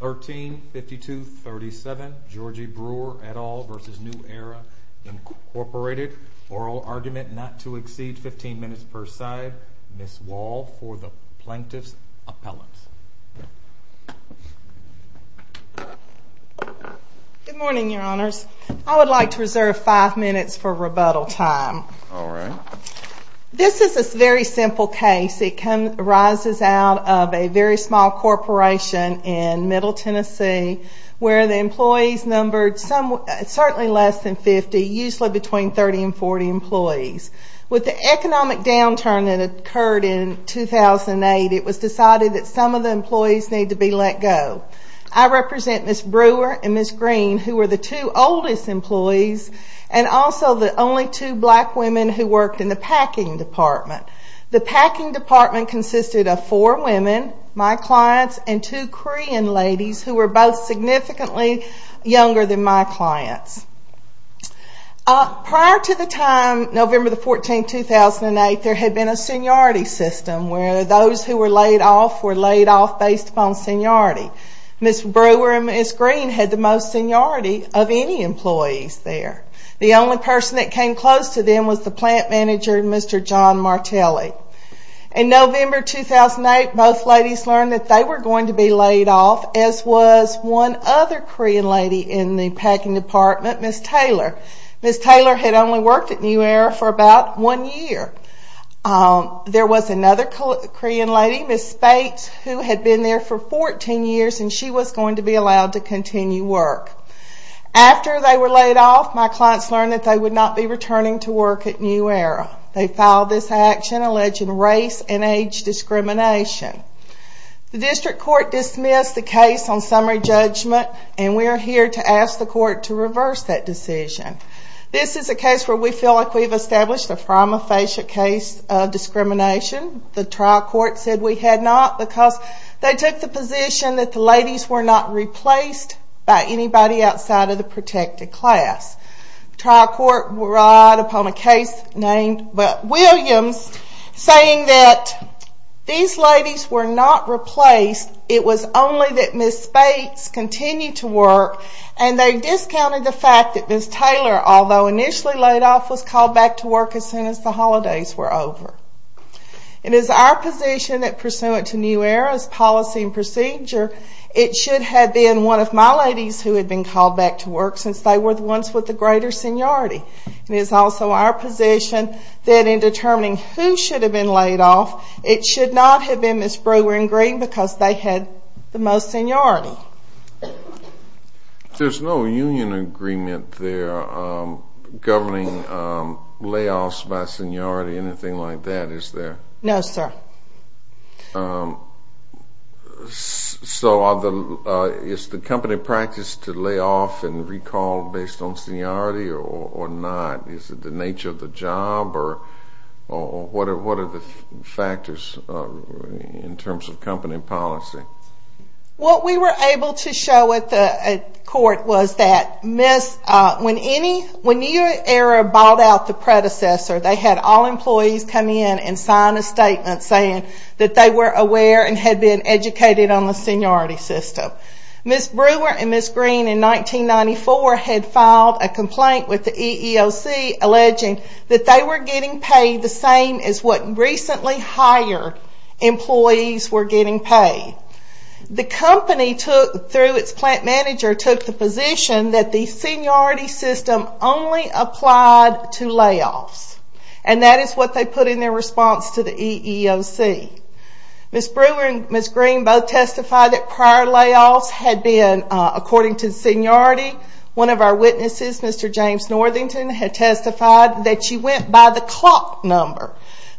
13-52-37 Georgie Brewer et al. v. New Era Incorporated. Oral argument not to exceed 15 minutes per side. Ms. Wall for the plaintiff's appellate. Good morning your honors. I would like to reserve 5 minutes for rebuttal time. This is a very simple case. It arises out of a very small corporation in Middle Tennessee where the employees numbered certainly less than 50, usually between 30 and 40 employees. With the economic downturn that occurred in 2008, it was decided that some of the employees needed to be let go. I represent Ms. Brewer and Ms. Green who were the two oldest employees and also the only two black women who worked in the packing department. The packing department consisted of four women, my clients, and two Korean ladies who were both significantly younger than my clients. Prior to the time, November 14, 2008, there had been a seniority system where those who were laid off were laid off based upon seniority. Ms. Brewer and Ms. Green had the most seniority of any employees there. The only person that came close to them was the plant manager, Mr. John Martelli. In November 2008, both ladies learned that they were going to be laid off as was one other Korean lady in the packing department, Ms. Taylor. Ms. Taylor had only worked at New Era for about one year. There was another Korean lady, Ms. Spate, who had been there for 14 years and she was going to be allowed to continue work. After they were laid off, my clients learned that they would not be returning to work at New Era. They filed this action alleging race and age discrimination. The district court dismissed the case on summary judgment and we are here to ask the court to reverse that decision. This is a case where we feel like we have established a prima facie case of discrimination. The trial court said we had not because they took the position that the ladies were not replaced by anybody outside of the protected class. The trial court relied upon a case named Williams saying that these ladies were not replaced, it was only that Ms. Spates continued to work and they discounted the fact that Ms. Taylor, although initially laid off, was called back to work as soon as the holidays were over. It is our position that pursuant to New Era's policy and procedure, it should have been one of my ladies who had been called back to work since they were the ones with the greater seniority. It is also our position that in determining who should have been laid off, it should not have been Ms. Brewer and Green because they had the most seniority. There's no union agreement there governing layoffs by seniority, anything like that, is there? No, sir. So is the company practiced to lay off and recall based on seniority or not? Is it the nature of the job or what are the factors in terms of company policy? What we were able to show at court was that when New Era bought out the predecessor, they had all employees come in and sign a statement saying that they were aware and had been educated on the seniority system. Ms. Brewer and Ms. Green in 1994 had filed a complaint with the EEOC alleging that they were getting paid the same as what recently hired employees were getting paid. The company, through its plant manager, took the position that the seniority system only applied to layoffs. And that is what they put in their response to the EEOC. Ms. Brewer and Ms. Green both testified that prior layoffs had been, according to seniority, one of our witnesses, Mr. James Northington, had testified that she went by the clock number.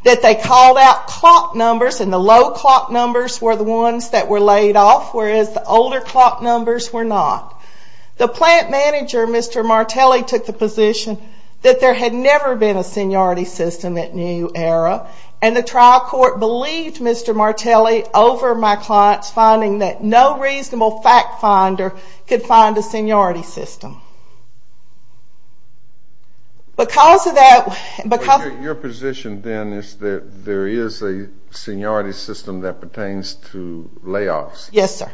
That they called out clock numbers and the low clock numbers were the ones that were laid off, whereas the older clock numbers were not. The plant manager, Mr. Martelli, took the position that there had never been a seniority system at New Era. And the trial court believed Mr. Martelli over my client's finding that no reasonable fact finder could find a seniority system. Because of that – Your position then is that there is a seniority system that pertains to layoffs. Yes, sir.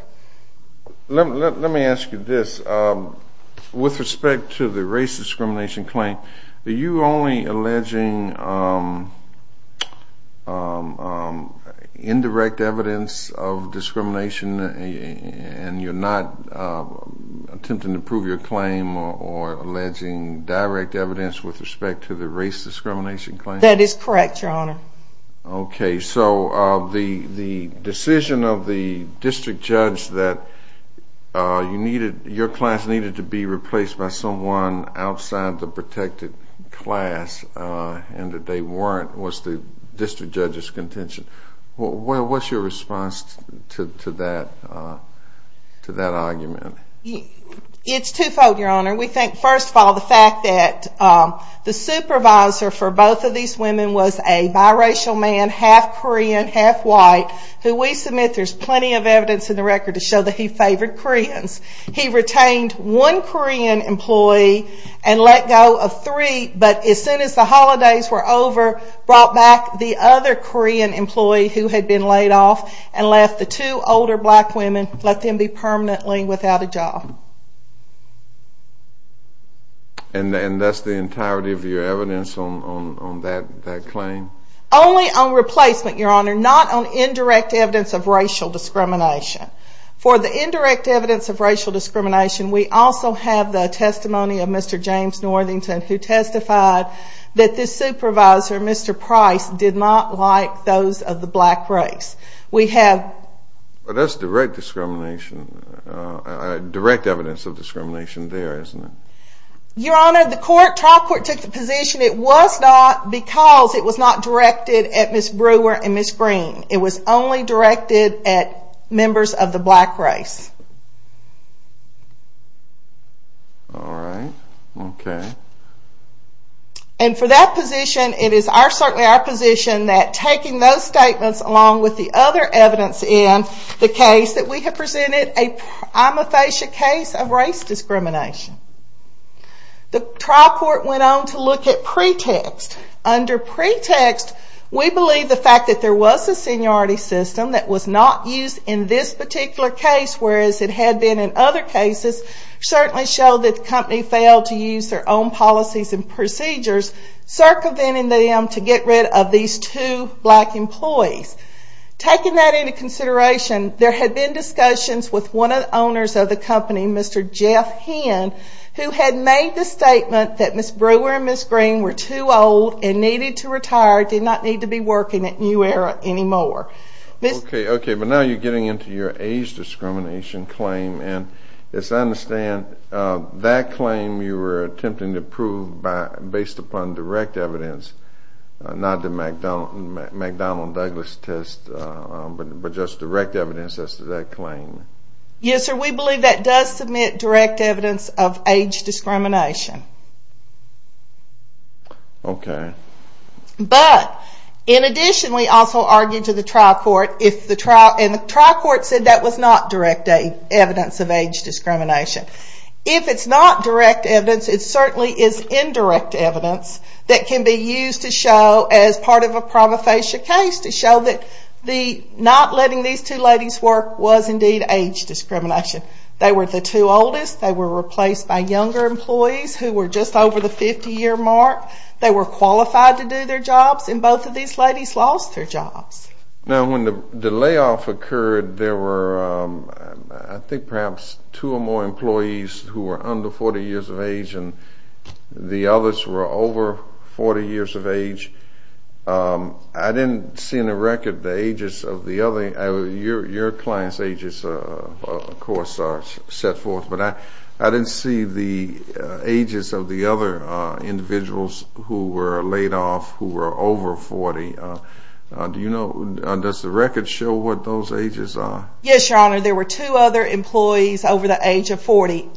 Let me ask you this. With respect to the race discrimination claim, are you only alleging indirect evidence of discrimination and you're not attempting to prove your claim or alleging direct evidence with respect to the race discrimination claim? That is correct, Your Honor. Okay, so the decision of the district judge that your class needed to be replaced by someone outside the protected class and that they weren't was the district judge's contention. What's your response to that argument? It's twofold, Your Honor. We think, first of all, the fact that the supervisor for both of these women was a biracial man, half Korean, half white, who we submit there's plenty of evidence in the record to show that he favored Koreans. He retained one Korean employee and let go of three, but as soon as the holidays were over, brought back the other Korean employee who had been laid off and left the two older black women, let them be permanently without a job. And that's the entirety of your evidence on that claim? Only on replacement, Your Honor, not on indirect evidence of racial discrimination. For the indirect evidence of racial discrimination, we also have the testimony of Mr. James Northington who testified that this supervisor, Mr. Price, did not like those of the black race. We have... But that's direct discrimination, direct evidence of discrimination there, isn't it? Your Honor, the trial court took the position it was not because it was not directed at Ms. Brewer and Ms. Green. It was only directed at members of the black race. All right, okay. And for that position, it is certainly our position that taking those statements along with the other evidence in the case that we have presented, a prima facie case of race discrimination. The trial court went on to look at pretext. Under pretext, we believe the fact that there was a seniority system that was not used in this particular case, whereas it had been in other cases, certainly showed that the company failed to use their own policies and procedures, circumventing them to get rid of these two black employees. Taking that into consideration, there had been discussions with one of the owners of the company, Mr. Jeff Hinn, who had made the statement that Ms. Brewer and Ms. Green were too old and needed to retire, did not need to be working at New Era anymore. Okay, okay. But now you're getting into your age discrimination claim. And as I understand, that claim you were attempting to prove based upon direct evidence, not the McDonnell-Douglas test, but just direct evidence as to that claim. Yes, sir. We believe that does submit direct evidence of age discrimination. Okay. But, in addition, we also argued to the trial court, and the trial court said that was not direct evidence of age discrimination. If it's not direct evidence, it certainly is indirect evidence that can be used to show, as part of a promophasia case, to show that not letting these two ladies work was indeed age discrimination. They were the two oldest. They were replaced by younger employees who were just over the 50-year mark. They were qualified to do their jobs, and both of these ladies lost their jobs. Now, when the layoff occurred, there were, I think, perhaps two or more employees who were under 40 years of age, and the others were over 40 years of age. I didn't see in the record the ages of the other – your client's ages, of course, are set forth, but I didn't see the ages of the other individuals who were laid off who were over 40. Do you know – does the record show what those ages are? Yes, Your Honor. There were two other employees over the age of 40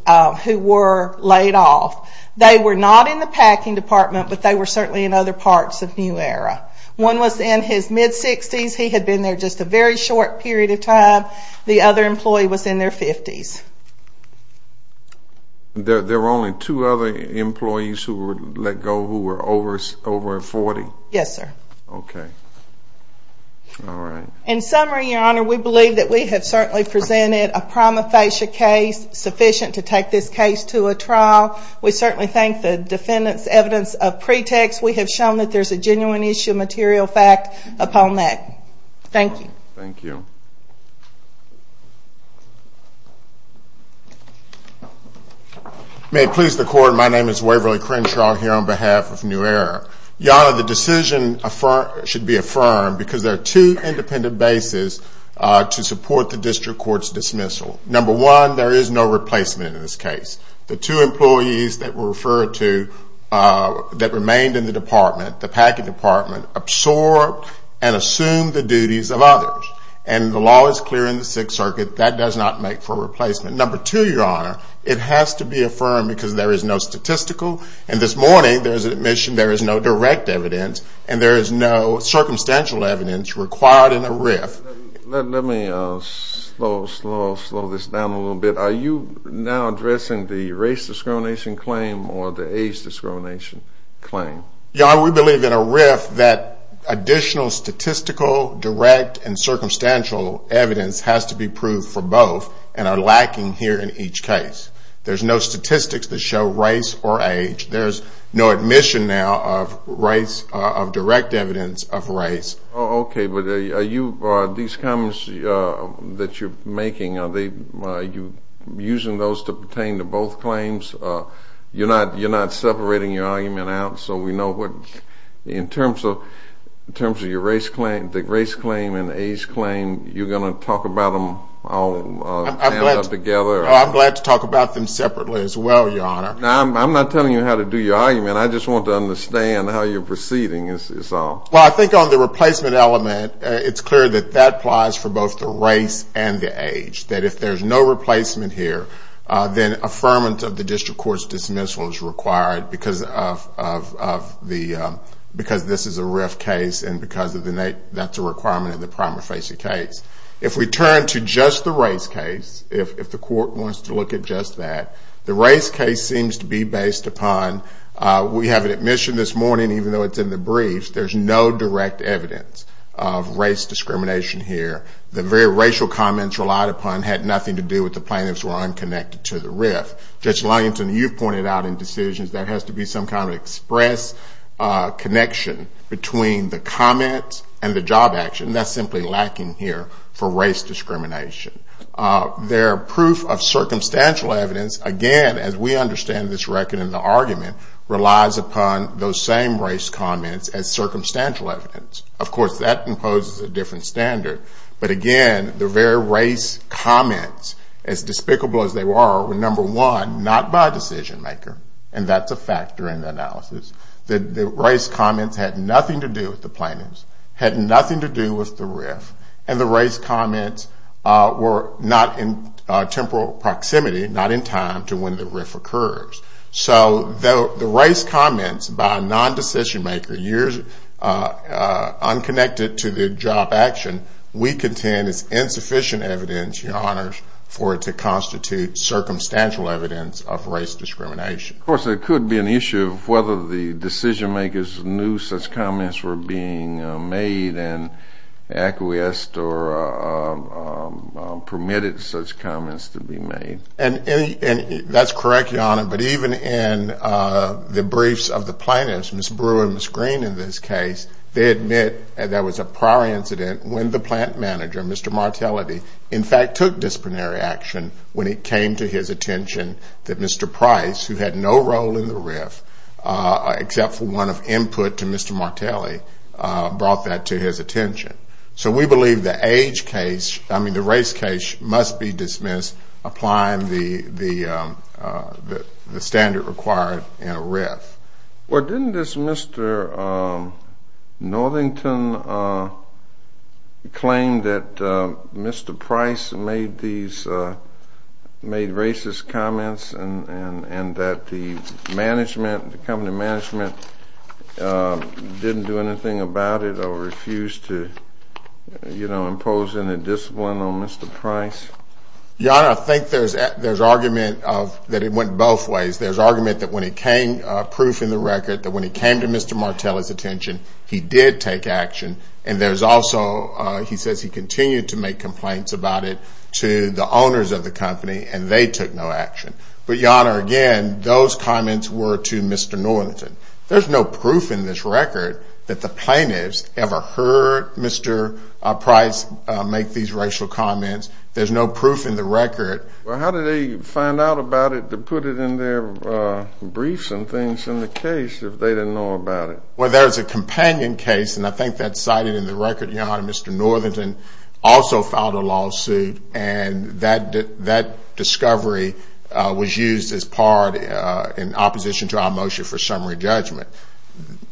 who were laid off. They were not in the packing department, but they were certainly in other parts of New Era. One was in his mid-60s. He had been there just a very short period of time. The other employee was in their 50s. There were only two other employees who were let go who were over 40? Yes, sir. Okay. All right. In summary, Your Honor, we believe that we have certainly presented a promophasia case sufficient to take this case to a trial. We certainly thank the defendants' evidence of pretext. We have shown that there's a genuine issue of material fact upon that. Thank you. Thank you. May it please the Court, my name is Waverly Crenshaw here on behalf of New Era. Your Honor, the decision should be affirmed because there are two independent bases to support the district court's dismissal. Number one, there is no replacement in this case. The two employees that were referred to that remained in the department, the packing department, absorbed and assumed the duties of others. And the law is clear in the Sixth Circuit. That does not make for a replacement. Number two, Your Honor, it has to be affirmed because there is no statistical. And this morning, there is admission there is no direct evidence, and there is no circumstantial evidence required in a RIF. Let me slow this down a little bit. Are you now addressing the race discrimination claim or the age discrimination claim? Your Honor, we believe in a RIF that additional statistical, direct, and circumstantial evidence has to be proved for both and are lacking here in each case. There's no statistics that show race or age. There's no admission now of direct evidence of race. Okay, but these comments that you're making, are you using those to pertain to both claims? You're not separating your argument out, so we know what, in terms of your race claim, the race claim and age claim, you're going to talk about them all together? I'm glad to talk about them separately as well, Your Honor. I'm not telling you how to do your argument. I just want to understand how you're proceeding is all. Well, I think on the replacement element, it's clear that that applies for both the race and the age. That if there's no replacement here, then affirmance of the district court's dismissal is required because this is a RIF case and because that's a requirement in the prima facie case. If we turn to just the race case, if the court wants to look at just that, the race case seems to be based upon we have an admission this morning, even though it's in the briefs, there's no direct evidence of race discrimination here. The very racial comments relied upon had nothing to do with the plaintiffs were unconnected to the RIF. Judge Lyington, you've pointed out in decisions there has to be some kind of express connection between the comment and the job action. That's simply lacking here for race discrimination. Their proof of circumstantial evidence, again, as we understand this record in the argument, relies upon those same race comments as circumstantial evidence. Of course, that imposes a different standard. But again, the very race comments, as despicable as they were, were number one, not by a decision maker, and that's a factor in the analysis. The race comments had nothing to do with the plaintiffs, had nothing to do with the RIF, and the race comments were not in temporal proximity, not in time to when the RIF occurs. So the race comments by a non-decision maker, unconnected to the job action, we contend is insufficient evidence, Your Honors, for it to constitute circumstantial evidence of race discrimination. Of course, there could be an issue of whether the decision makers knew such comments were being made and acquiesced or permitted such comments to be made. And that's correct, Your Honor, but even in the briefs of the plaintiffs, Ms. Brewer and Ms. Green, in this case, they admit there was a prior incident when the plant manager, Mr. Martelli, in fact took disciplinary action when it came to his attention that Mr. Price, who had no role in the RIF except for one of input to Mr. Martelli, brought that to his attention. So we believe the age case, I mean the race case, must be dismissed applying the standard required in a RIF. Well, didn't this Mr. Northington claim that Mr. Price made racist comments and that the management, the company management, didn't do anything about it or refused to impose any discipline on Mr. Price? Your Honor, I think there's argument that it went both ways. There's argument that when it came, proof in the record, that when it came to Mr. Martelli's attention, he did take action and there's also, he says he continued to make complaints about it to the owners of the company and they took no action. But, Your Honor, again, those comments were to Mr. Northington. There's no proof in this record that the plaintiffs ever heard Mr. Price make these racial comments. There's no proof in the record. Well, how did they find out about it to put it in their briefs and things in the case if they didn't know about it? Well, there's a companion case, and I think that's cited in the record, Your Honor, Mr. Northington also filed a lawsuit and that discovery was used as part in opposition to our motion for summary judgment.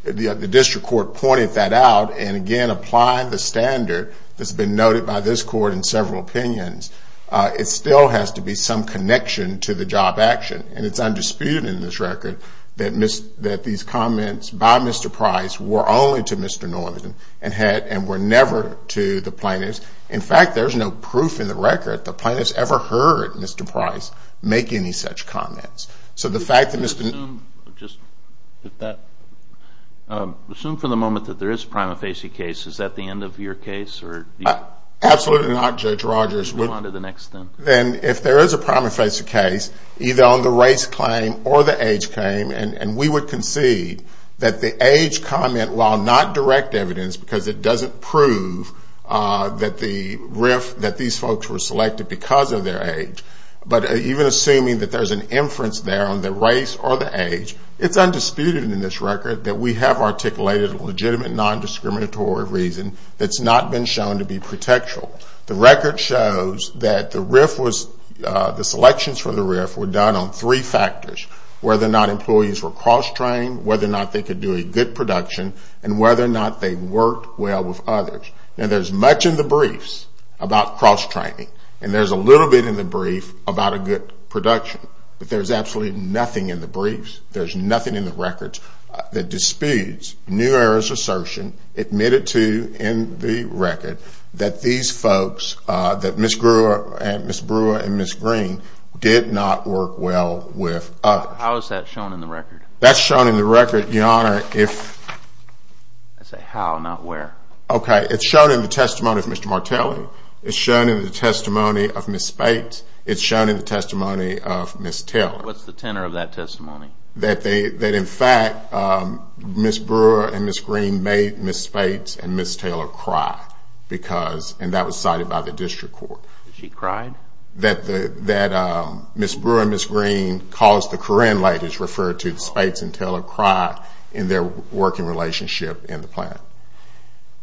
The district court pointed that out and, again, applying the standard that's been noted by this court in several opinions, it still has to be some connection to the job action. And it's undisputed in this record that these comments by Mr. Price were only to Mr. Northington and were never to the plaintiffs. In fact, there's no proof in the record the plaintiffs ever heard Mr. Price make any such comments. So the fact that Mr. Northington Assume for the moment that there is a prima facie case. Is that the end of your case? Absolutely not, Judge Rogers. Then if there is a prima facie case, either on the race claim or the age claim, and we would concede that the age comment, while not direct evidence, because it doesn't prove that these folks were selected because of their age, but even assuming that there's an inference there on the race or the age, it's undisputed in this record that we have articulated a legitimate nondiscriminatory reason that's not been shown to be pretextual. The record shows that the selections for the RIF were done on three factors, whether or not employees were cross-trained, whether or not they could do a good production, and whether or not they worked well with others. Now, there's much in the briefs about cross-training, and there's a little bit in the brief about a good production. But there's absolutely nothing in the briefs, there's nothing in the records, that disputes New Era's assertion admitted to in the record that these folks, that Ms. Brewer and Ms. Green, did not work well with others. How is that shown in the record? That's shown in the record, Your Honor, if... I say how, not where. Okay, it's shown in the testimony of Mr. Martelli. It's shown in the testimony of Ms. Speight. It's shown in the testimony of Ms. Taylor. What's the tenor of that testimony? That, in fact, Ms. Brewer and Ms. Green made Ms. Speight and Ms. Taylor cry, and that was cited by the district court. Did she cry? That Ms. Brewer and Ms. Green caused the Karen ladies, referred to as Speight and Taylor, cry in their working relationship in the plant.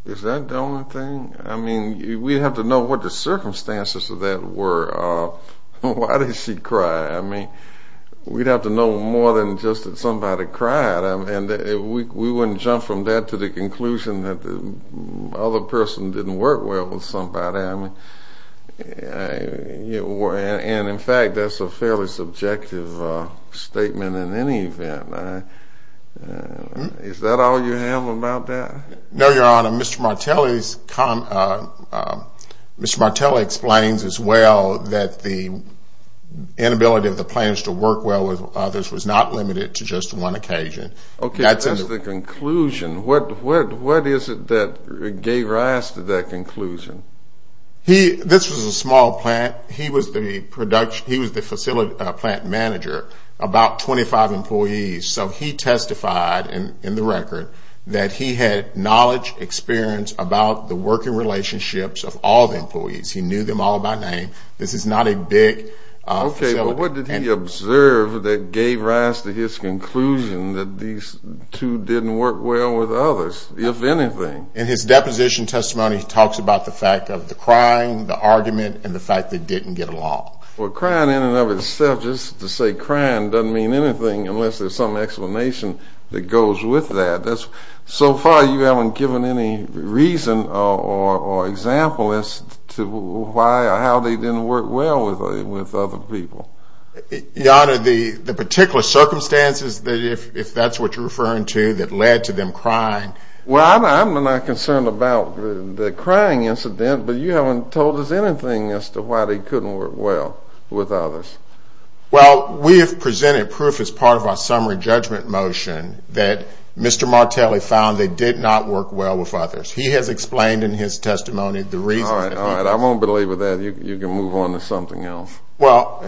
Is that the only thing? I mean, we'd have to know what the circumstances of that were. Why did she cry? I mean, we'd have to know more than just that somebody cried. I mean, we wouldn't jump from that to the conclusion that the other person didn't work well with somebody. And, in fact, that's a fairly subjective statement in any event. Is that all you have about that? No, Your Honor. Mr. Martelli explains as well that the inability of the plants to work well with others was not limited to just one occasion. Okay, that's the conclusion. What is it that gave rise to that conclusion? This was a small plant. He was the facility plant manager, about 25 employees. So he testified in the record that he had knowledge, experience about the working relationships of all the employees. He knew them all by name. This is not a big facility. Okay, but what did he observe that gave rise to his conclusion that these two didn't work well with others, if anything? In his deposition testimony, he talks about the fact of the crying, the argument, and the fact they didn't get along. Well, crying in and of itself, just to say crying doesn't mean anything unless there's some explanation that goes with that. So far you haven't given any reason or example as to why or how they didn't work well with other people. Your Honor, the particular circumstances, if that's what you're referring to, that led to them crying? Well, I'm not concerned about the crying incident, but you haven't told us anything as to why they couldn't work well with others. Well, we have presented proof as part of our summary judgment motion that Mr. Martelli found they did not work well with others. He has explained in his testimony the reason. All right, all right. I won't believe with that. You can move on to something else. Well,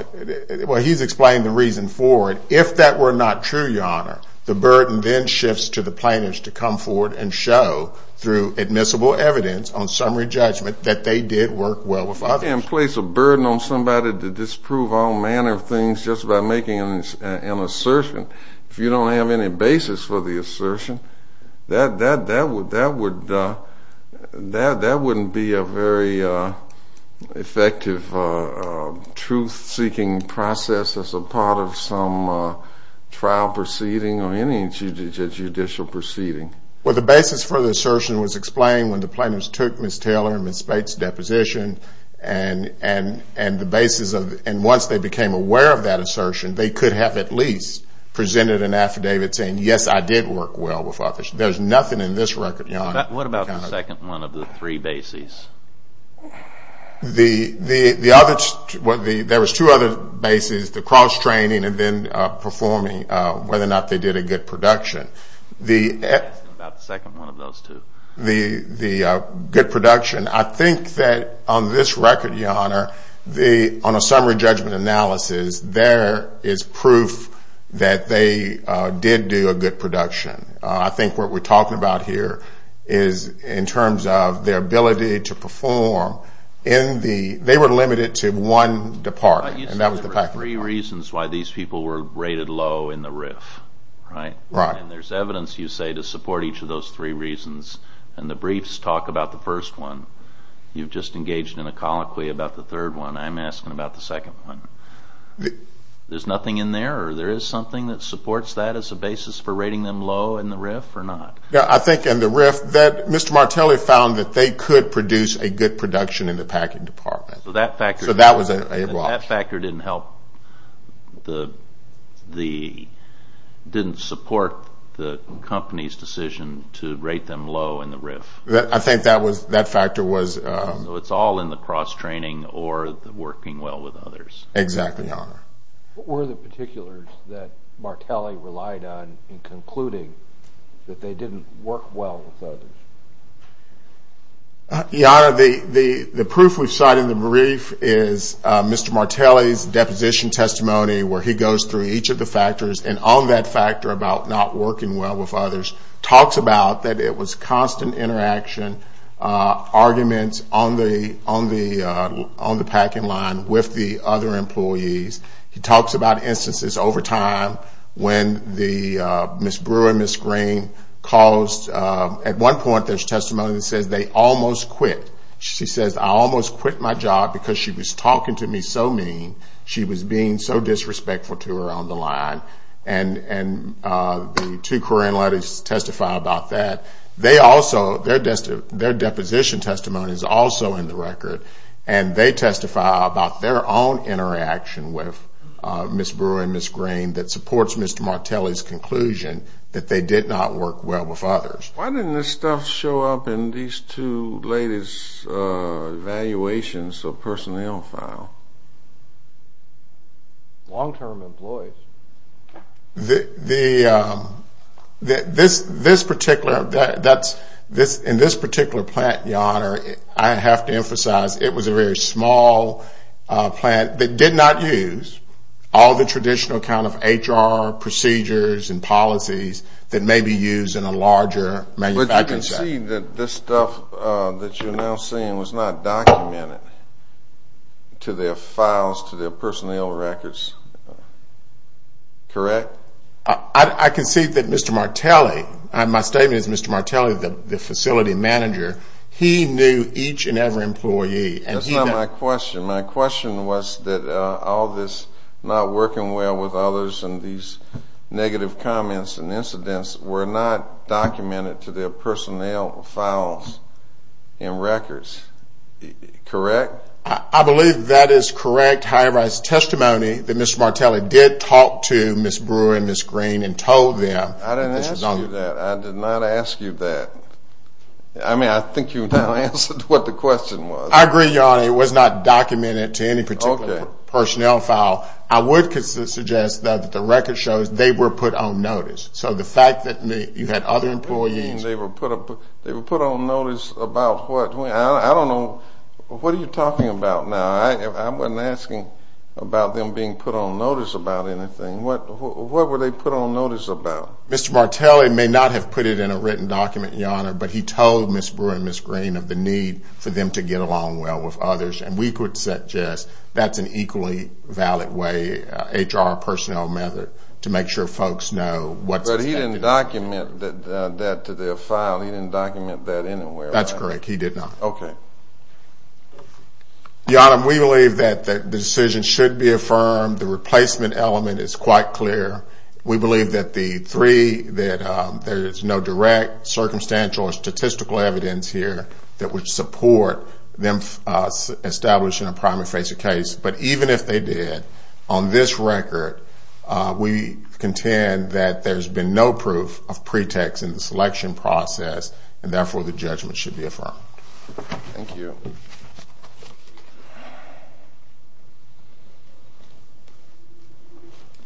he's explained the reason for it. If that were not true, Your Honor, the burden then shifts to the plaintiffs to come forward and show through admissible evidence on summary judgment that they did work well with others. You can't place a burden on somebody to disprove all manner of things just by making an assertion. If you don't have any basis for the assertion, that wouldn't be a very effective truth-seeking process as a part of some trial proceeding or any judicial proceeding. Well, the basis for the assertion was explained when the plaintiffs took Ms. Taylor and Ms. Bates' deposition, and once they became aware of that assertion, they could have at least presented an affidavit saying, yes, I did work well with others. There's nothing in this record, Your Honor. What about the second one of the three bases? There was two other bases, the cross-training and then performing, whether or not they did a good production. What about the second one of those two? The good production. I think that on this record, Your Honor, on a summary judgment analysis, there is proof that they did do a good production. I think what we're talking about here is in terms of their ability to perform. They were limited to one department. You said there were three reasons why these people were rated low in the RIF, right? Right. And there's evidence, you say, to support each of those three reasons, and the briefs talk about the first one. You've just engaged in a colloquy about the third one. I'm asking about the second one. There's nothing in there, or there is something that supports that as a basis for rating them low in the RIF or not? I think in the RIF, Mr. Martelli found that they could produce a good production in the packing department. So that factor didn't help. It didn't support the company's decision to rate them low in the RIF. I think that factor was… So it's all in the cross-training or the working well with others. Exactly, Your Honor. What were the particulars that Martelli relied on in concluding that they didn't work well with others? Your Honor, the proof we've cited in the RIF is Mr. Martelli's deposition testimony, where he goes through each of the factors, and on that factor about not working well with others, talks about that it was constant interaction, arguments on the packing line with the other employees. He talks about instances over time when Ms. Brewer and Ms. Green caused… At one point, there's testimony that says they almost quit. She says, I almost quit my job because she was talking to me so mean. She was being so disrespectful to her on the line. And the two Korean ladies testify about that. Their deposition testimony is also in the record, and they testify about their own interaction with Ms. Brewer and Ms. Green that supports Mr. Martelli's conclusion that they did not work well with others. Why didn't this stuff show up in these two ladies' evaluations of personnel file? Long-term employees. In this particular plant, Your Honor, I have to emphasize, it was a very small plant that did not use all the traditional kind of HR procedures and policies that may be used in a larger manufacturing site. But you can see that this stuff that you're now seeing was not documented to their files, to their personnel records. Correct? I can see that Mr. Martelli, and my statement is Mr. Martelli, the facility manager, he knew each and every employee. That's not my question. My question was that all this not working well with others and these negative comments and incidents were not documented to their personnel files and records. Correct? I believe that is correct. High-rise testimony that Mr. Martelli did talk to Ms. Brewer and Ms. Green and told them. I didn't ask you that. I did not ask you that. I mean, I think you now answered what the question was. I agree, Your Honor. It was not documented to any particular personnel file. I would suggest that the record shows they were put on notice. So the fact that you had other employees. They were put on notice about what? I don't know. What are you talking about now? I wasn't asking about them being put on notice about anything. What were they put on notice about? Mr. Martelli may not have put it in a written document, Your Honor, but he told Ms. Brewer and Ms. Green of the need for them to get along well with others, and we could suggest that's an equally valid way, HR personnel method, to make sure folks know what's happening. But he didn't document that to their file. He didn't document that anywhere. That's correct. He did not. Okay. Your Honor, we believe that the decision should be affirmed. The replacement element is quite clear. We believe that there is no direct, circumstantial, or statistical evidence here that would support them establishing a primary face of case. But even if they did, on this record, we contend that there's been no proof of pretext in the selection process, and therefore the judgment should be affirmed. Thank you.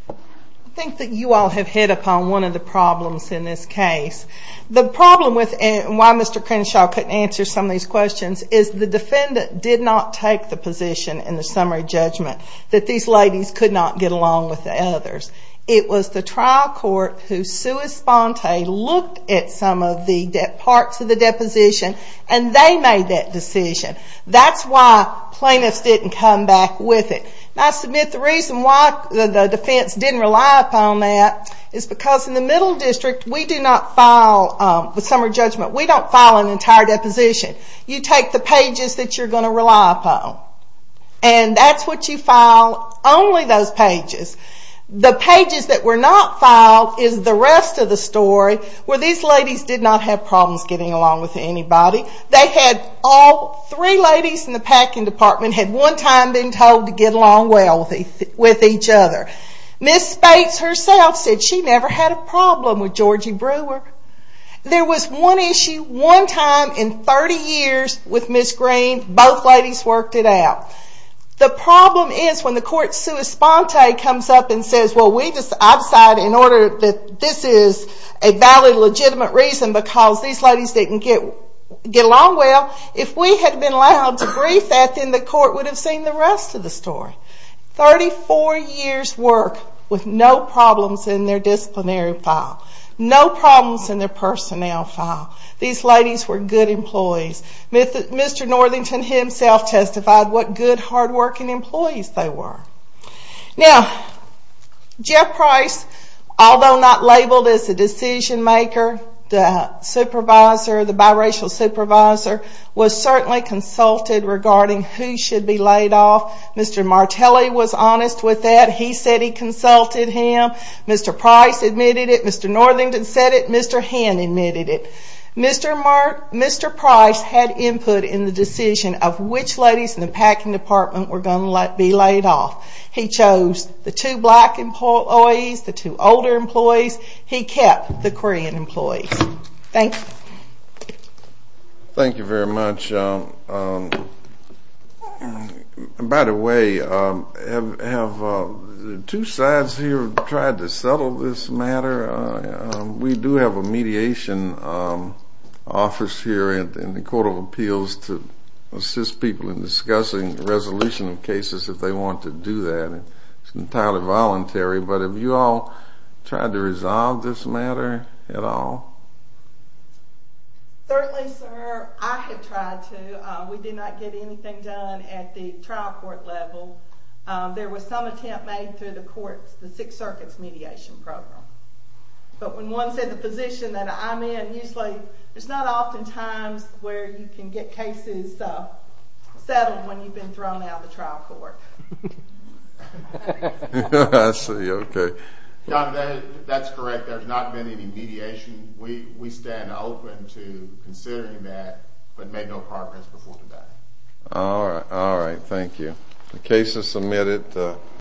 I think that you all have hit upon one of the problems in this case. The problem with it, and why Mr. Crenshaw couldn't answer some of these questions, is the defendant did not take the position in the summary judgment that these ladies could not get along with the others. It was the trial court who, sui sponte, looked at some of the parts of the deposition, and they made that decision. That's why plaintiffs didn't come back with it. I submit the reason why the defense didn't rely upon that is because in the Middle District, we do not file the summary judgment. We don't file an entire deposition. You take the pages that you're going to rely upon, and that's what you file, only those pages. The pages that were not filed is the rest of the story, where these ladies did not have problems getting along with anybody. They had all three ladies in the packing department had one time been told to get along well with each other. Ms. Spates herself said she never had a problem with Georgie Brewer. There was one issue, one time in 30 years with Ms. Green, both ladies worked it out. The problem is when the court, sui sponte, comes up and says, I've decided in order that this is a valid, legitimate reason because these ladies didn't get along well, if we had been allowed to brief that, then the court would have seen the rest of the story. 34 years' work with no problems in their disciplinary file. No problems in their personnel file. These ladies were good employees. Mr. Northington himself testified what good, hardworking employees they were. Now, Jeff Price, although not labeled as a decision maker, the supervisor, the biracial supervisor, was certainly consulted regarding who should be laid off. Mr. Martelli was honest with that. He said he consulted him. Mr. Price admitted it. Mr. Northington said it. Mr. Henn admitted it. Mr. Price had input in the decision of which ladies in the packing department were going to be laid off. He chose the two black employees, the two older employees. He kept the Korean employees. Thank you. Thank you very much. By the way, have two sides here tried to settle this matter? We do have a mediation office here in the Court of Appeals to assist people in discussing resolution of cases if they want to do that. It's entirely voluntary. But have you all tried to resolve this matter at all? Certainly, sir, I have tried to. We did not get anything done at the trial court level. There was some attempt made through the courts, the Sixth Circuit's mediation program. But when one's in the position that I'm in, usually there's not often times where you can get cases settled when you've been thrown out of the trial court. I see. Okay. That's correct. There's not been any mediation. All right. Thank you. The case is submitted.